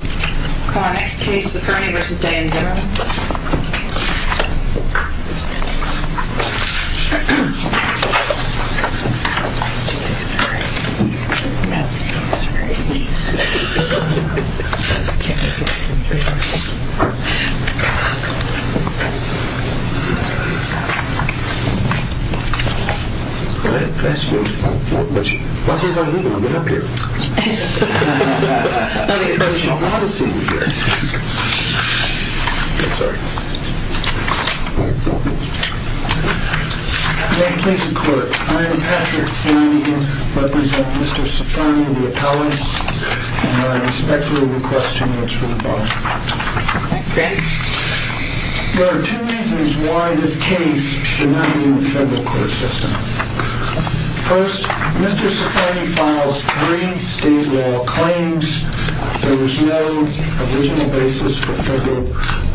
Our next case is a Ciferniv.Day&Zimmerman This tastes great. Yeah, this is great. I can't wait to get some beer. Can I ask you a question? Why is everyone looking up here? I have a question. I should not have seen you here. Sorry. May it please the court. I am Patrick Fleming. I represent Mr. Ciferni, the appellant. And I respectfully request two minutes from the bar. Okay. There are two reasons why this case should not be in the federal court system. First, Mr. Ciferni files three state law claims. There was no original basis for federal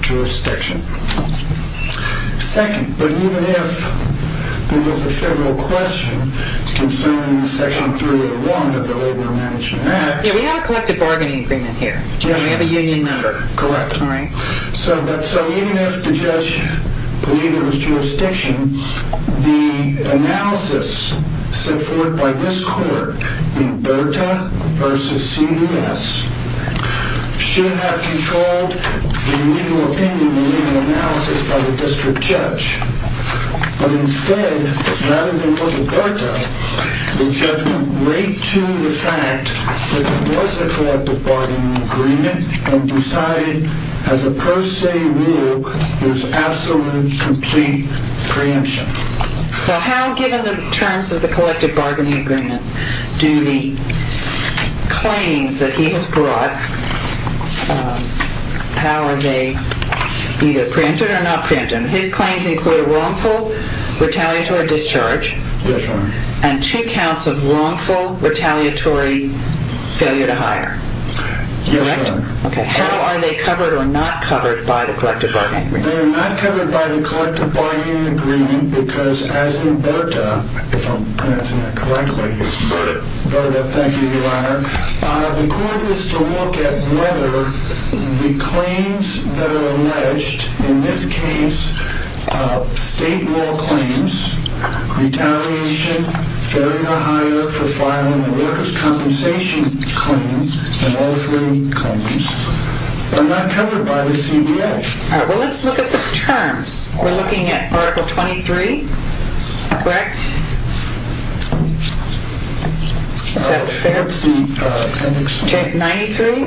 jurisdiction. Second, even if there was a federal question concerning Section 301 of the Labor Management Act. We have a collective bargaining agreement here. We have a union member. Correct. So even if the judge believed there was jurisdiction, the analysis set forth by this court in Berta v. CES should have controlled the legal opinion and legal analysis by the district judge. But instead, rather than look at Berta, the judge went right to the fact that there was a collective bargaining agreement and decided, as a per se rule, there was absolute, complete preemption. Well, how, given the terms of the collective bargaining agreement, do the claims that he has brought, how are they either preempted or not preempted? His claims include a wrongful, retaliatory discharge. Yes, Your Honor. And two counts of wrongful, retaliatory failure to hire. Yes, Your Honor. How are they covered or not covered by the collective bargaining agreement? They are not covered by the collective bargaining agreement because, as in Berta, if I'm pronouncing that correctly, Berta, thank you, Your Honor. The court is to look at whether the claims that are alleged, in this case, state law claims, retaliation, failure to hire for filing a workers' compensation claim, and all three claims, are not covered by the CBA. All right, well, let's look at the terms. We're looking at Article 23, correct? Is that fair? What's the appendix? Chapter 93?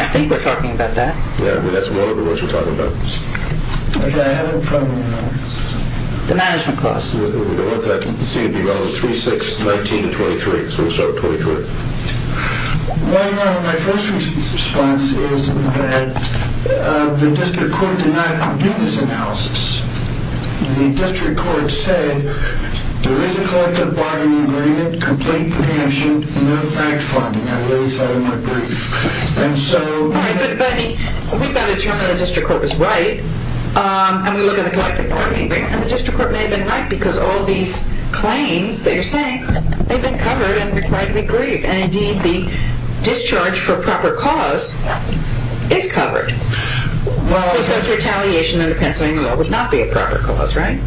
I think we're talking about that. Yeah, that's one of the words we're talking about. Okay, I have it in front of me now. The management clause. We don't want that. You can see it'd be relevant. 3619 to 23, so we'll start with 23. Your Honor, my first response is that the district court did not do this analysis. The district court said there is a collective bargaining agreement, complete compensation, no fact-finding. I really thought it might be. All right, but, Benny, we've got to determine the district court is right, and we look at the collective bargaining agreement, and the district court may have been right, because all these claims that you're saying, they've been covered and required to be grieved. And, indeed, the discharge for proper cause is covered. Because retaliation under Pennsylvania law would not be a proper cause, right?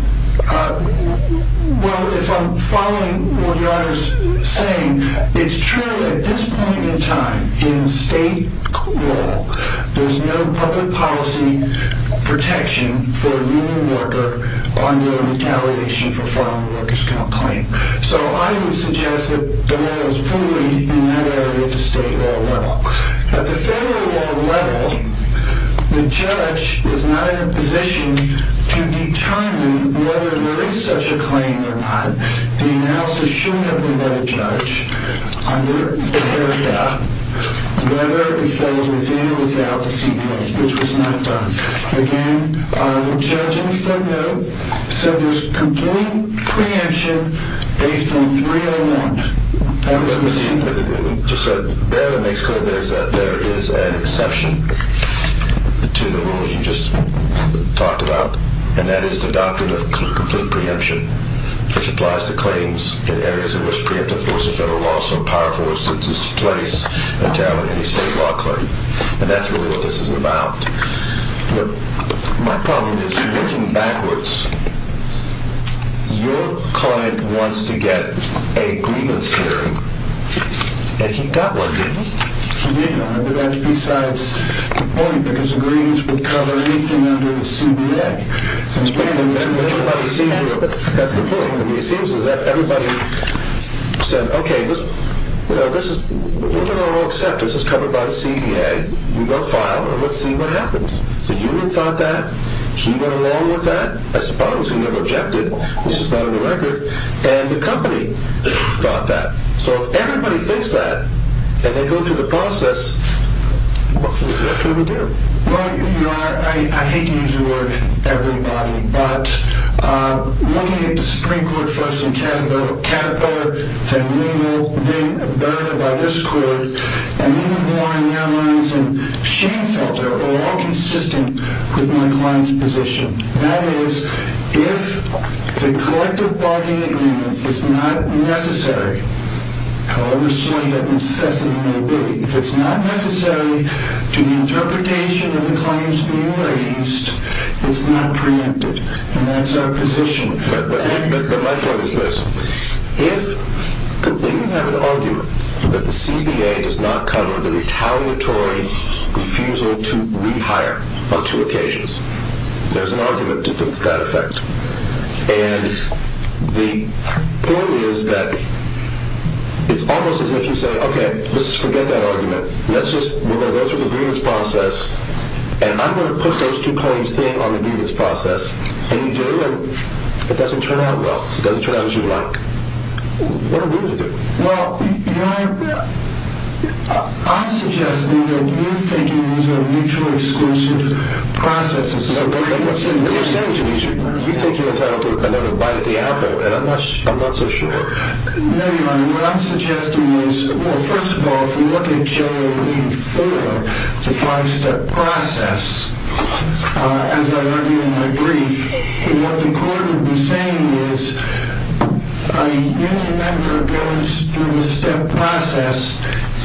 Well, if I'm following what Your Honor is saying, it's true at this point in time, in state law, there's no public policy protection for a union worker under a retaliation for farm workers claim. So I would suggest that the law is void in that area at the state law level. At the federal law level, the judge is not in a position to determine whether there is such a claim or not. The analysis showed that we let a judge under the area whether the felon was in or without a CPA, which was not done. Again, the judge in the front row said there's complete preemption based on 301. That was a mistake. So there it makes clear there is an exception to the rule you just talked about, and that is the doctrine of complete preemption, which applies to claims in areas in which preemptive force of federal law is so powerful as to displace and target any state law claim. And that's really what this is about. My problem is, looking backwards, your client wants to get a grievance hearing, and he got one, didn't he? Yes, Your Honor, but that's besides the point, because grievance would cover anything under the CPA. That's the point. It seems as if everybody said, okay, this is covered by the CPA. We will file, and let's see what happens. So you didn't thought that. He went along with that. I suppose he never objected. This is not in the record. And the company thought that. So if everybody thinks that, and they go through the process, what can we do? Well, Your Honor, I hate to use the word everybody, but looking at the Supreme Court first and Caterpillar, then we will then abide by this court, and we will go on down the lines, and she felt they were all consistent with my client's position. That is, if the collective bargaining agreement is not necessary, however slow and incessant it may be, if it's not necessary to the interpretation of the claims being raised, it's not preempted. And that's our position. But my point is this. If you have an argument that the CPA does not cover the retaliatory refusal to rehire on two occasions, there's an argument to that effect. And the point is that it's almost as if you say, OK, let's forget that argument. We're going to go through the grievance process, and I'm going to put those two claims in on the grievance process. And you do, and it doesn't turn out well. It doesn't turn out as you'd like. What are we to do? Well, Your Honor, I'm suggesting that you're thinking it's a mutually exclusive process. No, but what you're saying to me is you think you're entitled to another bite at the apple, and I'm not so sure. No, Your Honor. What I'm suggesting is, well, first of all, if we look at J-84, it's a five-step process. As I argue in my brief, what the court would be saying is any member goes through the step process,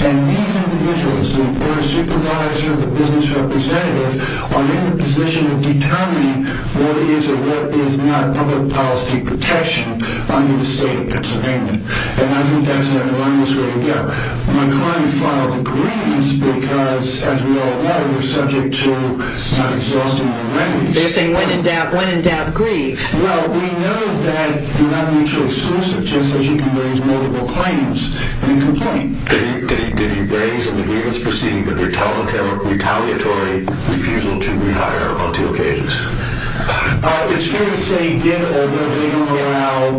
and these individuals, the employer supervisor, the business representative, are in the position of determining what is or what is not public policy protection under the state of Pennsylvania. And I think that's not the wrongest way to go. My client filed a grievance because, as we all know, we're subject to not exhaustive remedies. They're saying when in doubt, when in doubt, grieve. Well, we know that you're not mutually exclusive just as you can raise multiple claims in a complaint. Did he raise an agreement preceding the retaliatory refusal to rehire on two occasions? It's fair to say he did, although they don't allow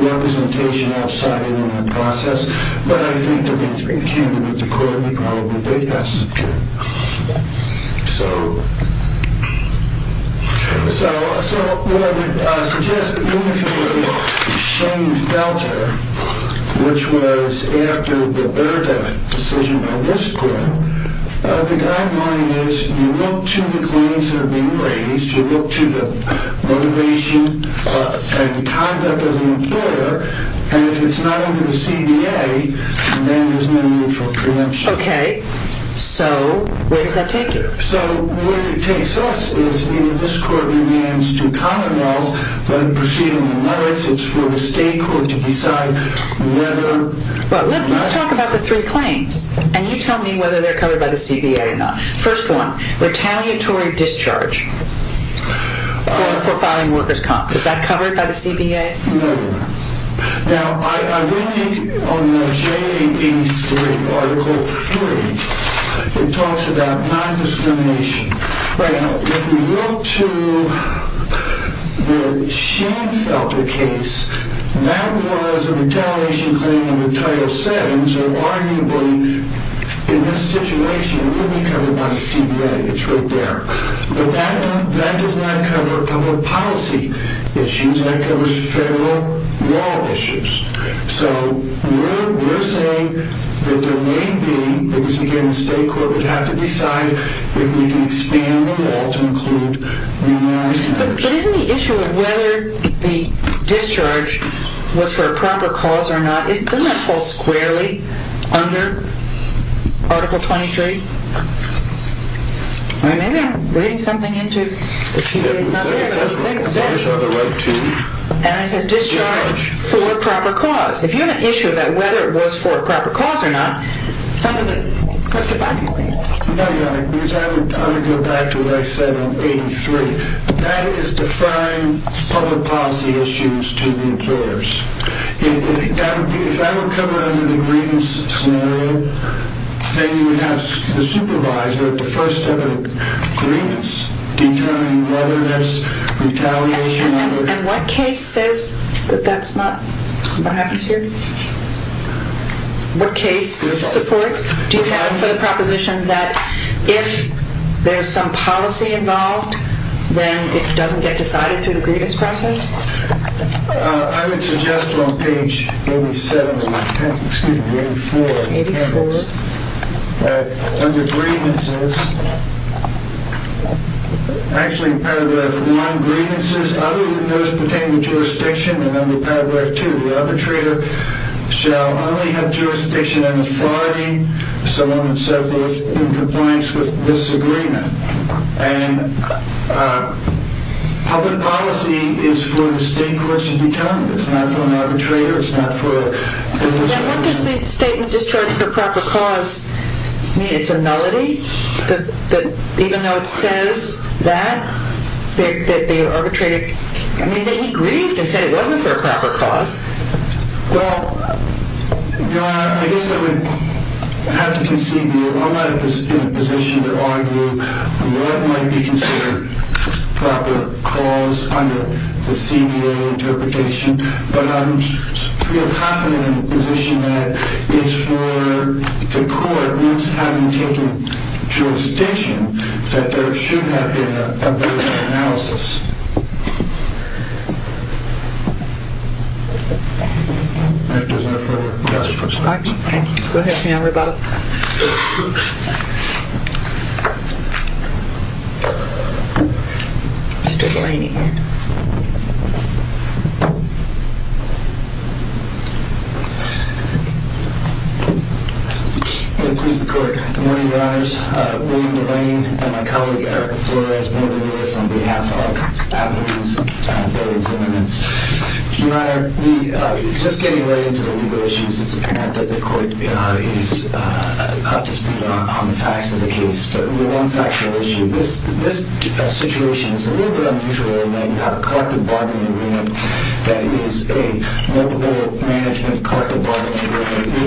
representation outside of the process. But I think they're going to continue with the court. We probably think that's good. So... So what I would suggest, even if it were a shame felter, which was after the Berta decision of this court, the guideline is you look to the claims that are being raised. You look to the motivation and conduct of the employer. And if it's not under the CBA, then there's no need for a preemption. Okay. So where does that take you? So where it takes us is, even if this court remains to common laws, let it proceed on the merits. It's for the state court to decide whether... Well, let's talk about the three claims. And you tell me whether they're covered by the CBA or not. First one, retaliatory discharge. For filing workers' comp. Is that covered by the CBA? No. Now, I do think on the JAD3, Article 3, it talks about non-discrimination. Right. Now, if we look to the shame felter case, that was a retaliation claim under Title VII. So arguably, in this situation, it wouldn't be covered by the CBA. It's right there. But it does not cover public policy issues. That covers federal law issues. So we're saying that there may be, because again, the state court would have to decide if we can expand the law to include remand... But isn't the issue of whether the discharge was for a proper cause or not, doesn't that fall squarely under Article 23? Maybe I'm reading something into the CBA. There it is. And it says discharge for a proper cause. If you have an issue about whether it was for a proper cause or not, some of the... No, Your Honor. Because I would go back to what I said on 83. That is defying public policy issues to the employers. If that were covered under the Green scenario, then you would have the supervisor at the first step of the grievance determine whether there's retaliation under... And what case says that that's not... What happens here? What case support do you have for the proposition that if there's some policy involved, then it doesn't get decided through the grievance process? I would suggest on page 87... Excuse me, 84. ...that under grievances, actually in paragraph 1, grievances other than those pertaining to jurisdiction, and under paragraph 2, the arbitrator shall only have jurisdiction and authority if someone suffers in compliance with this agreement. And public policy is for the state courts to determine. It's not for an arbitrator. It's not for... And what does the statement discharged for proper cause mean? It's a nullity? Even though it says that, that the arbitrator... I mean, he grieved and said it wasn't for a proper cause. Well, Your Honor, I guess I would have to concede that I'm not in a position to argue on what might be considered proper cause under the CBA interpretation. But I feel confident in the position that it's for the court, once having taken jurisdiction, that there should have been a written analysis. If there's no further questions... Thank you. Go ahead, ma'am, rebuttal. Mr. Delaney. Thank you, Your Honor. Good morning, Your Honors. William Delaney and my colleague, Erica Flores, on behalf of Avenues and Billings Immigrants. Your Honor, just getting right into the legal issues, it's apparent that the court is up to speed on the facts of the case. But one factual issue. This situation is a little bit unusual in that you have a collective bargaining agreement with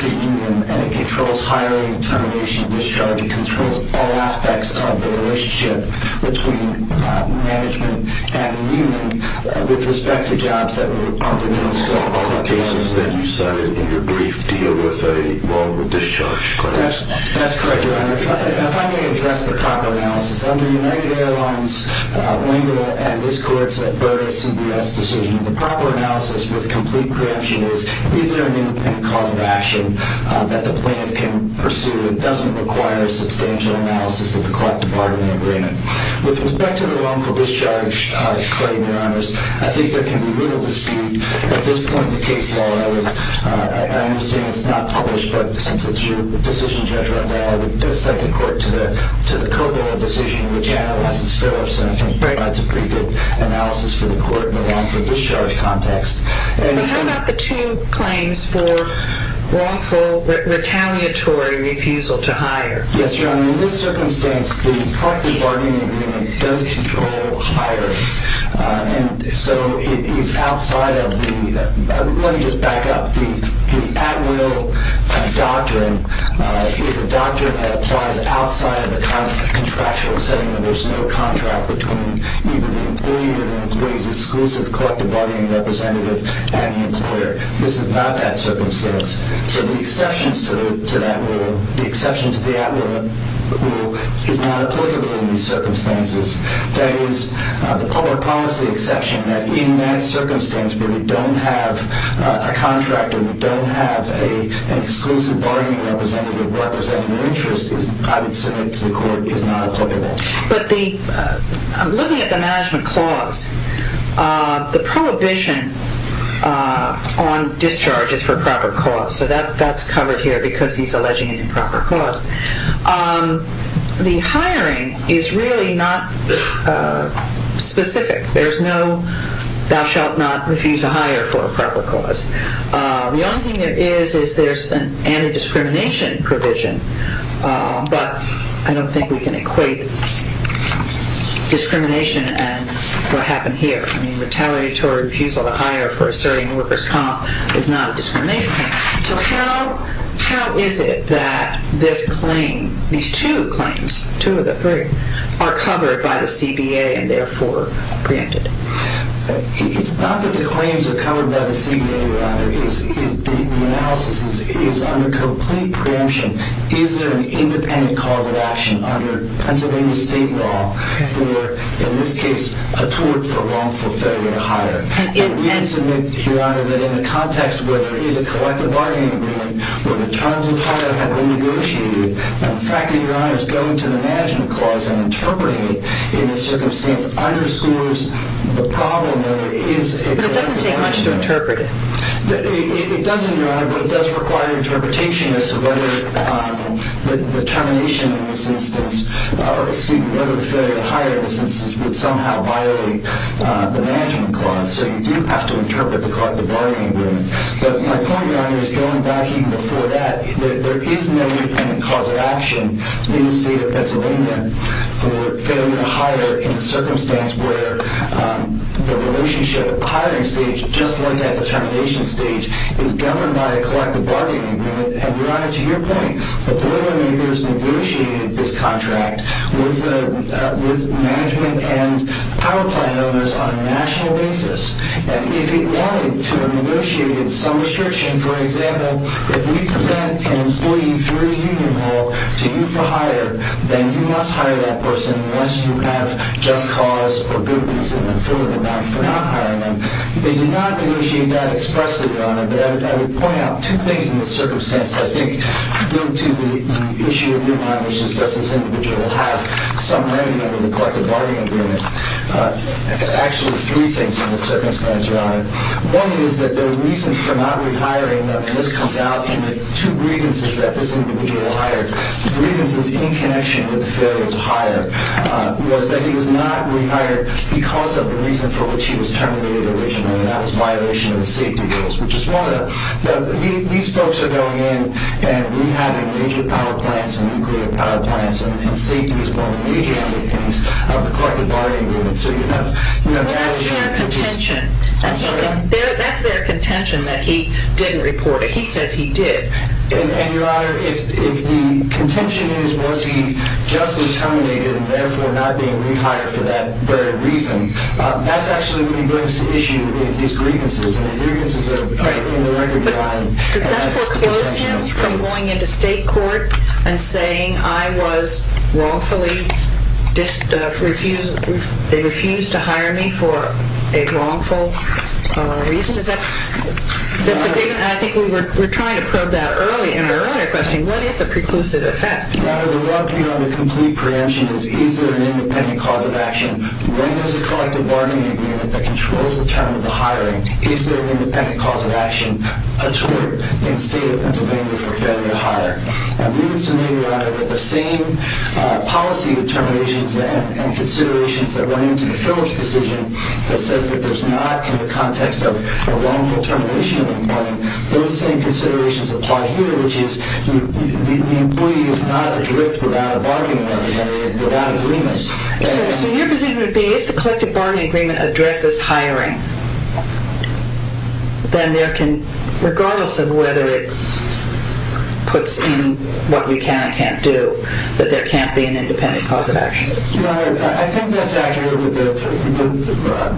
the union and it controls hiring, termination, discharge. It controls all aspects of the relationship between management and the union with respect to jobs that are on the minimum scale. All the cases that you cited in your brief deal with a wrongful discharge claim. That's correct, Your Honor. If I may address the proper analysis. Under United Airlines' window and this court's averted CBS decision, the proper analysis with complete preemption is either an independent cause of action that the plaintiff can pursue. It doesn't require substantial analysis of the collective bargaining agreement. With respect to the wrongful discharge claim, Your Honors, I think there can be little to speed at this point in the case, Your Honor. I understand it's not published, but since it's your decision to judge right now, I would cite the court to the COGOA decision which analyzes Phillips. And I think that's a pretty good analysis for the court. The wrongful discharge claim in the discharge context. But how about the two claims for wrongful retaliatory refusal to hire? Yes, Your Honor. In this circumstance, the collective bargaining agreement does control hire. And so it is outside of the... Let me just back up. The at-will doctrine is a doctrine that applies outside of the contractual setting where there's no contract between either the employee or the bargaining representative and the employer. This is not that circumstance. So the exception to that rule, the exception to the at-will rule is not applicable in these circumstances. That is, the public policy exception that in that circumstance where we don't have a contract or we don't have an exclusive bargaining representative representing an interest I would say to the court is not applicable. The prohibition on discharge is for proper cause. So that's covered here because he's alleging an improper cause. The hiring is really not specific. There's no thou shalt not refuse to hire for a proper cause. The only thing there is is there's an anti-discrimination provision. But I don't think we can equate discrimination and what happened here. I mean, retaliatory refusal to hire for asserting worker's comp is not a discrimination. So how is it that this claim, these two claims, two of the three, are covered by the CBA and therefore preempted? It's not that the claims are covered by the CBA, rather. The analysis is under complete preemption. Is there an independent cause of action under Pennsylvania state law for, in this case, a tort for wrongful failure to hire? Yes, Your Honor. But in the context where there is a collective bargaining agreement where the terms of hire have been negotiated, the fact that Your Honor is going to the management clause and interpreting it in this circumstance underscores the problem. But it doesn't take much to interpret it. It doesn't, Your Honor, but it does require interpretation as to whether the termination in this instance, excuse me, whether the failure to hire in this instance does have to interpret the collective bargaining agreement. But my point, Your Honor, is going back even before that, there is no independent cause of action in the state of Pennsylvania for failure to hire in the circumstance where the relationship hiring stage, just like that determination stage, is governed by a collective bargaining agreement. And Your Honor, to your point, the oil makers negotiated this contract with management and power plant owners and if it wanted to, they negotiated some restriction. For example, if we present an employee through a union hall to you for hire, then you must hire that person unless you have just cause or good reason and an affordable amount for not hiring them. They did not negotiate that expressly, Your Honor, but I would point out two things in this circumstance. One is that the reason for not rehiring them, and this comes out in the two grievances that this individual hired, grievances in connection with the failure to hire, was that he was not rehired because of the reason for which he was terminated originally and that was violation of the safety rules. These folks are going in and rehabbing major power plants and nuclear power plants and that's their contention that he didn't report it. He says he did. And Your Honor, if the contention is was he justly terminated and therefore not being rehired for that very reason, that's actually what he brings to issue in his grievances and the grievances are in the record line. Does that foreclose him from going into state court and saying I was wrongfully refused to hire me for a wrongful reason? I think we were trying to probe that earlier in the earlier question. What is the preclusive effect? Your Honor, the rub here on the complete preemption is is there an independent cause of action? When there's a collective bargaining agreement that controls the term of the hiring, is there an independent cause of action in the state of Pennsylvania for failure to hire? We would say, Your Honor, that the same policy determinations and considerations that went into the Phillips decision that says that there's not in the context of a wrongful termination of an employee, those same considerations apply here, which is the employee is not adrift without a bargaining agreement, without agreement. So your position would be if the collective bargaining agreement addresses hiring, then there can, regardless of whether it puts in what we can and can't do, that there can't be an independent cause of action. Your Honor, I think that's accurate with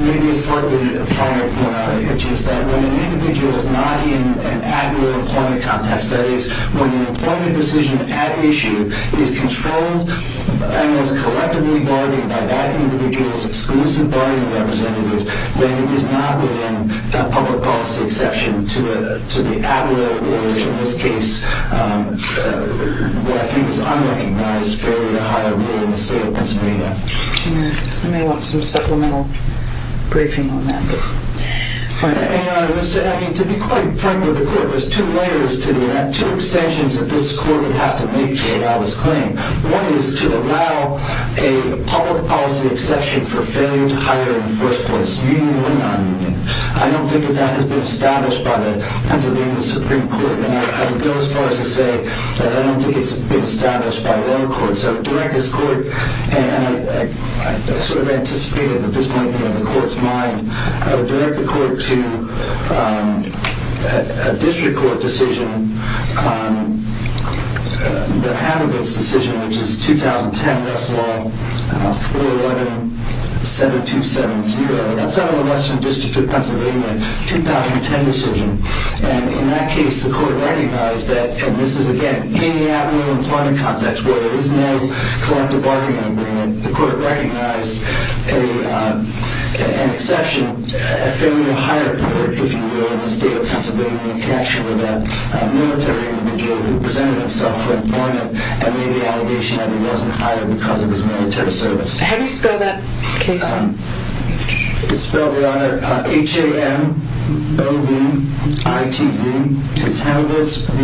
maybe a slightly finer point, which is that when an individual is not in an admirable employment context, that is, when an employment decision at issue is controlled and is collectively bargained by that individual's exclusive bargaining representative, then it is not within a public policy exception to the admirable or, in this case, what I think is unrecognized failure to hire rule in the state of Pennsylvania. I may want some supplemental briefing on that. Your Honor, to be quite frank with the Court, to that, two extensions that this Court would have to make to allow this claim. One is to allow a public policy exception for failure to hire in the first place, meaning when not meaning. I don't think that that has been established by the Pennsylvania Supreme Court, and I would go as far as to say that I don't think it's been established by their Court. So I would direct this Court, and I sort of anticipated that this might be on the Court's mind, I would direct the Court to a district court decision, the Hanovitz decision, which is 2010 Russell Law, 411 7270. That's out of the Western District of Pennsylvania, 2010 decision, and in that case the Court recognized that, and this is again in the abnormal employment context where there is no collective bargaining agreement, the Court recognized an exception, a failure to hire a public, if you will, in the State of Pennsylvania in connection with that military individual who presented himself for employment and made the allegation that he wasn't hired because of his military service. How do you spell that case? It's spelled H-A-M-O-V-I-T-Z. It's Hanovitz v.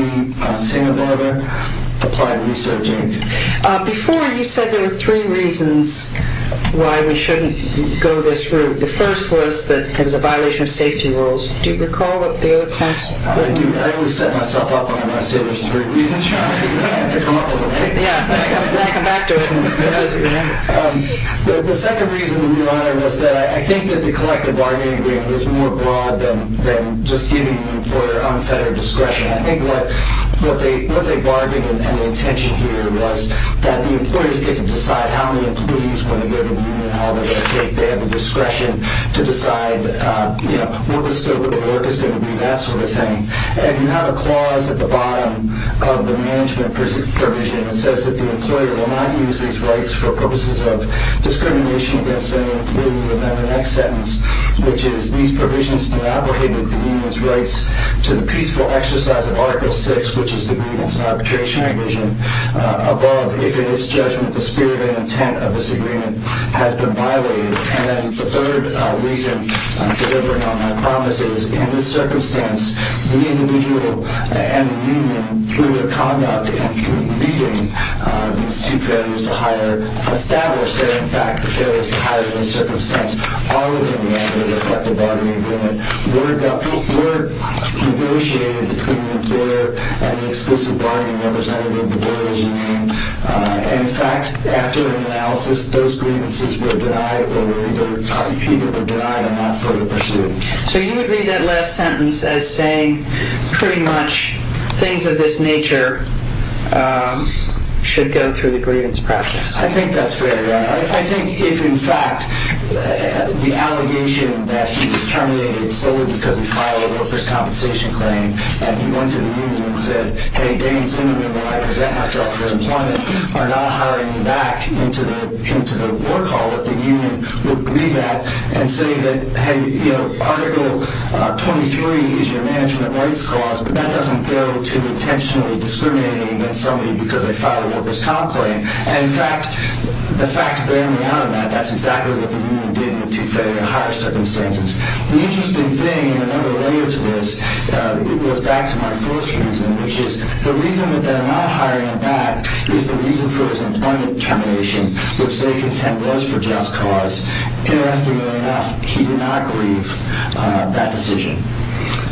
Sanabar Applied Research Inc. Before you said there were three reasons why we shouldn't go this route. The first was that it was a violation of safety rules. Do you recall the other task? I do. I always set myself up under my saviors for reasons. The second reason, Your Honor, was that I think the collective bargaining agreement was more broad than just giving an employer unfettered discretion. I think what they bargained and the intention here was that the employers get to decide how many employees when they go to the union, how long they're going to take, they have to decide how long the work is going to be, that sort of thing. And you have a clause at the bottom of the management provision that says that the employer will not use these rights for purposes of discrimination against any employee. And the next sentence which is these provisions do not abrogate the union's rights to the peaceful exercise of article 6 above if in its judgment the spirit and intent of this agreement has been violated. And the third reason delivering on my promise is in this circumstance the individual and the union who were conducting the meeting established that in fact the failures to hire in this circumstance are within the mandate of the collective bargaining agreement were negotiated between the employer and the exclusive bargaining representative of the union. So you would read that last sentence as saying pretty much things of this nature should go through the grievance process. I think that's very right. I think if in fact the allegation that he was terminated solely because he filed a workers compensation claim and he went to the union and said Article 23 is your management rights clause but that doesn't go to intentionally discriminating against somebody because they filed a workers comp claim. And in fact the facts bear me out of that. That's exactly what the union did to fail meet their higher circumstances. The interesting thing in another layer to this was back to my first reason which is the reason that they're not hiring him back is the reason for his employment termination which they contend was for just cause. Interestingly enough he did not grieve that decision.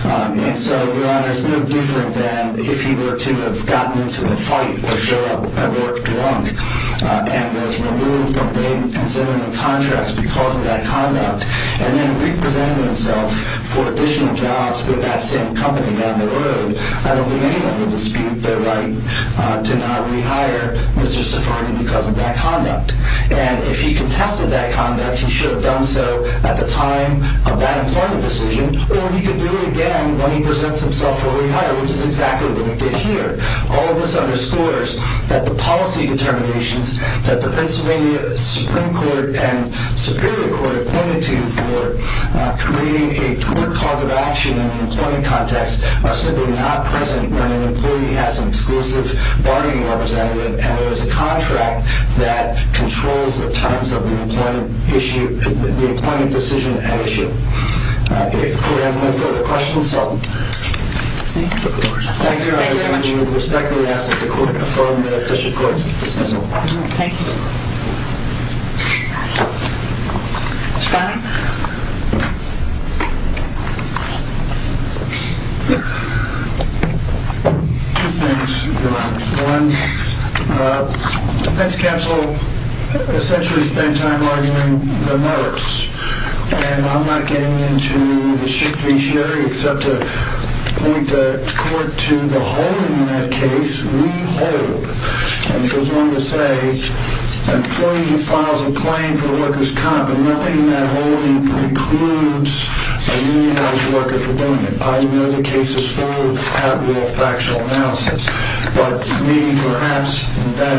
And so it's no different than if he were to have gotten into a fight or show up at work drunk and was removed from contracts because of that conduct and then represented himself for additional jobs with that same company down the road out of the country. He could do it again when he presents himself for rehire which is exactly what he did here. All of this underscores that the policy determinations that the Pennsylvania Supreme Court and Superior Court have pointed to for creating a poor cause of action in an employment context are simply not present when an employee has an exclusive bargaining representative and there's a contract that controls the terms of the employment issue, the employment decision at issue. If the Court has no further questions, so thank you. I respectfully ask that the Court affirm the district court's dismissal. Thank you. GARRETT. Connolly. MR. CONNOLLY. Two things. One, the defense counsel essentially spent time arguing the merits and I'm not getting into the schick feciary except to point the Court to the holding in that case, we hold. And it goes along that. I would like to say that nothing in that holding precludes a union house worker from doing it. I know the case is full of factual analysis but maybe perhaps that holding is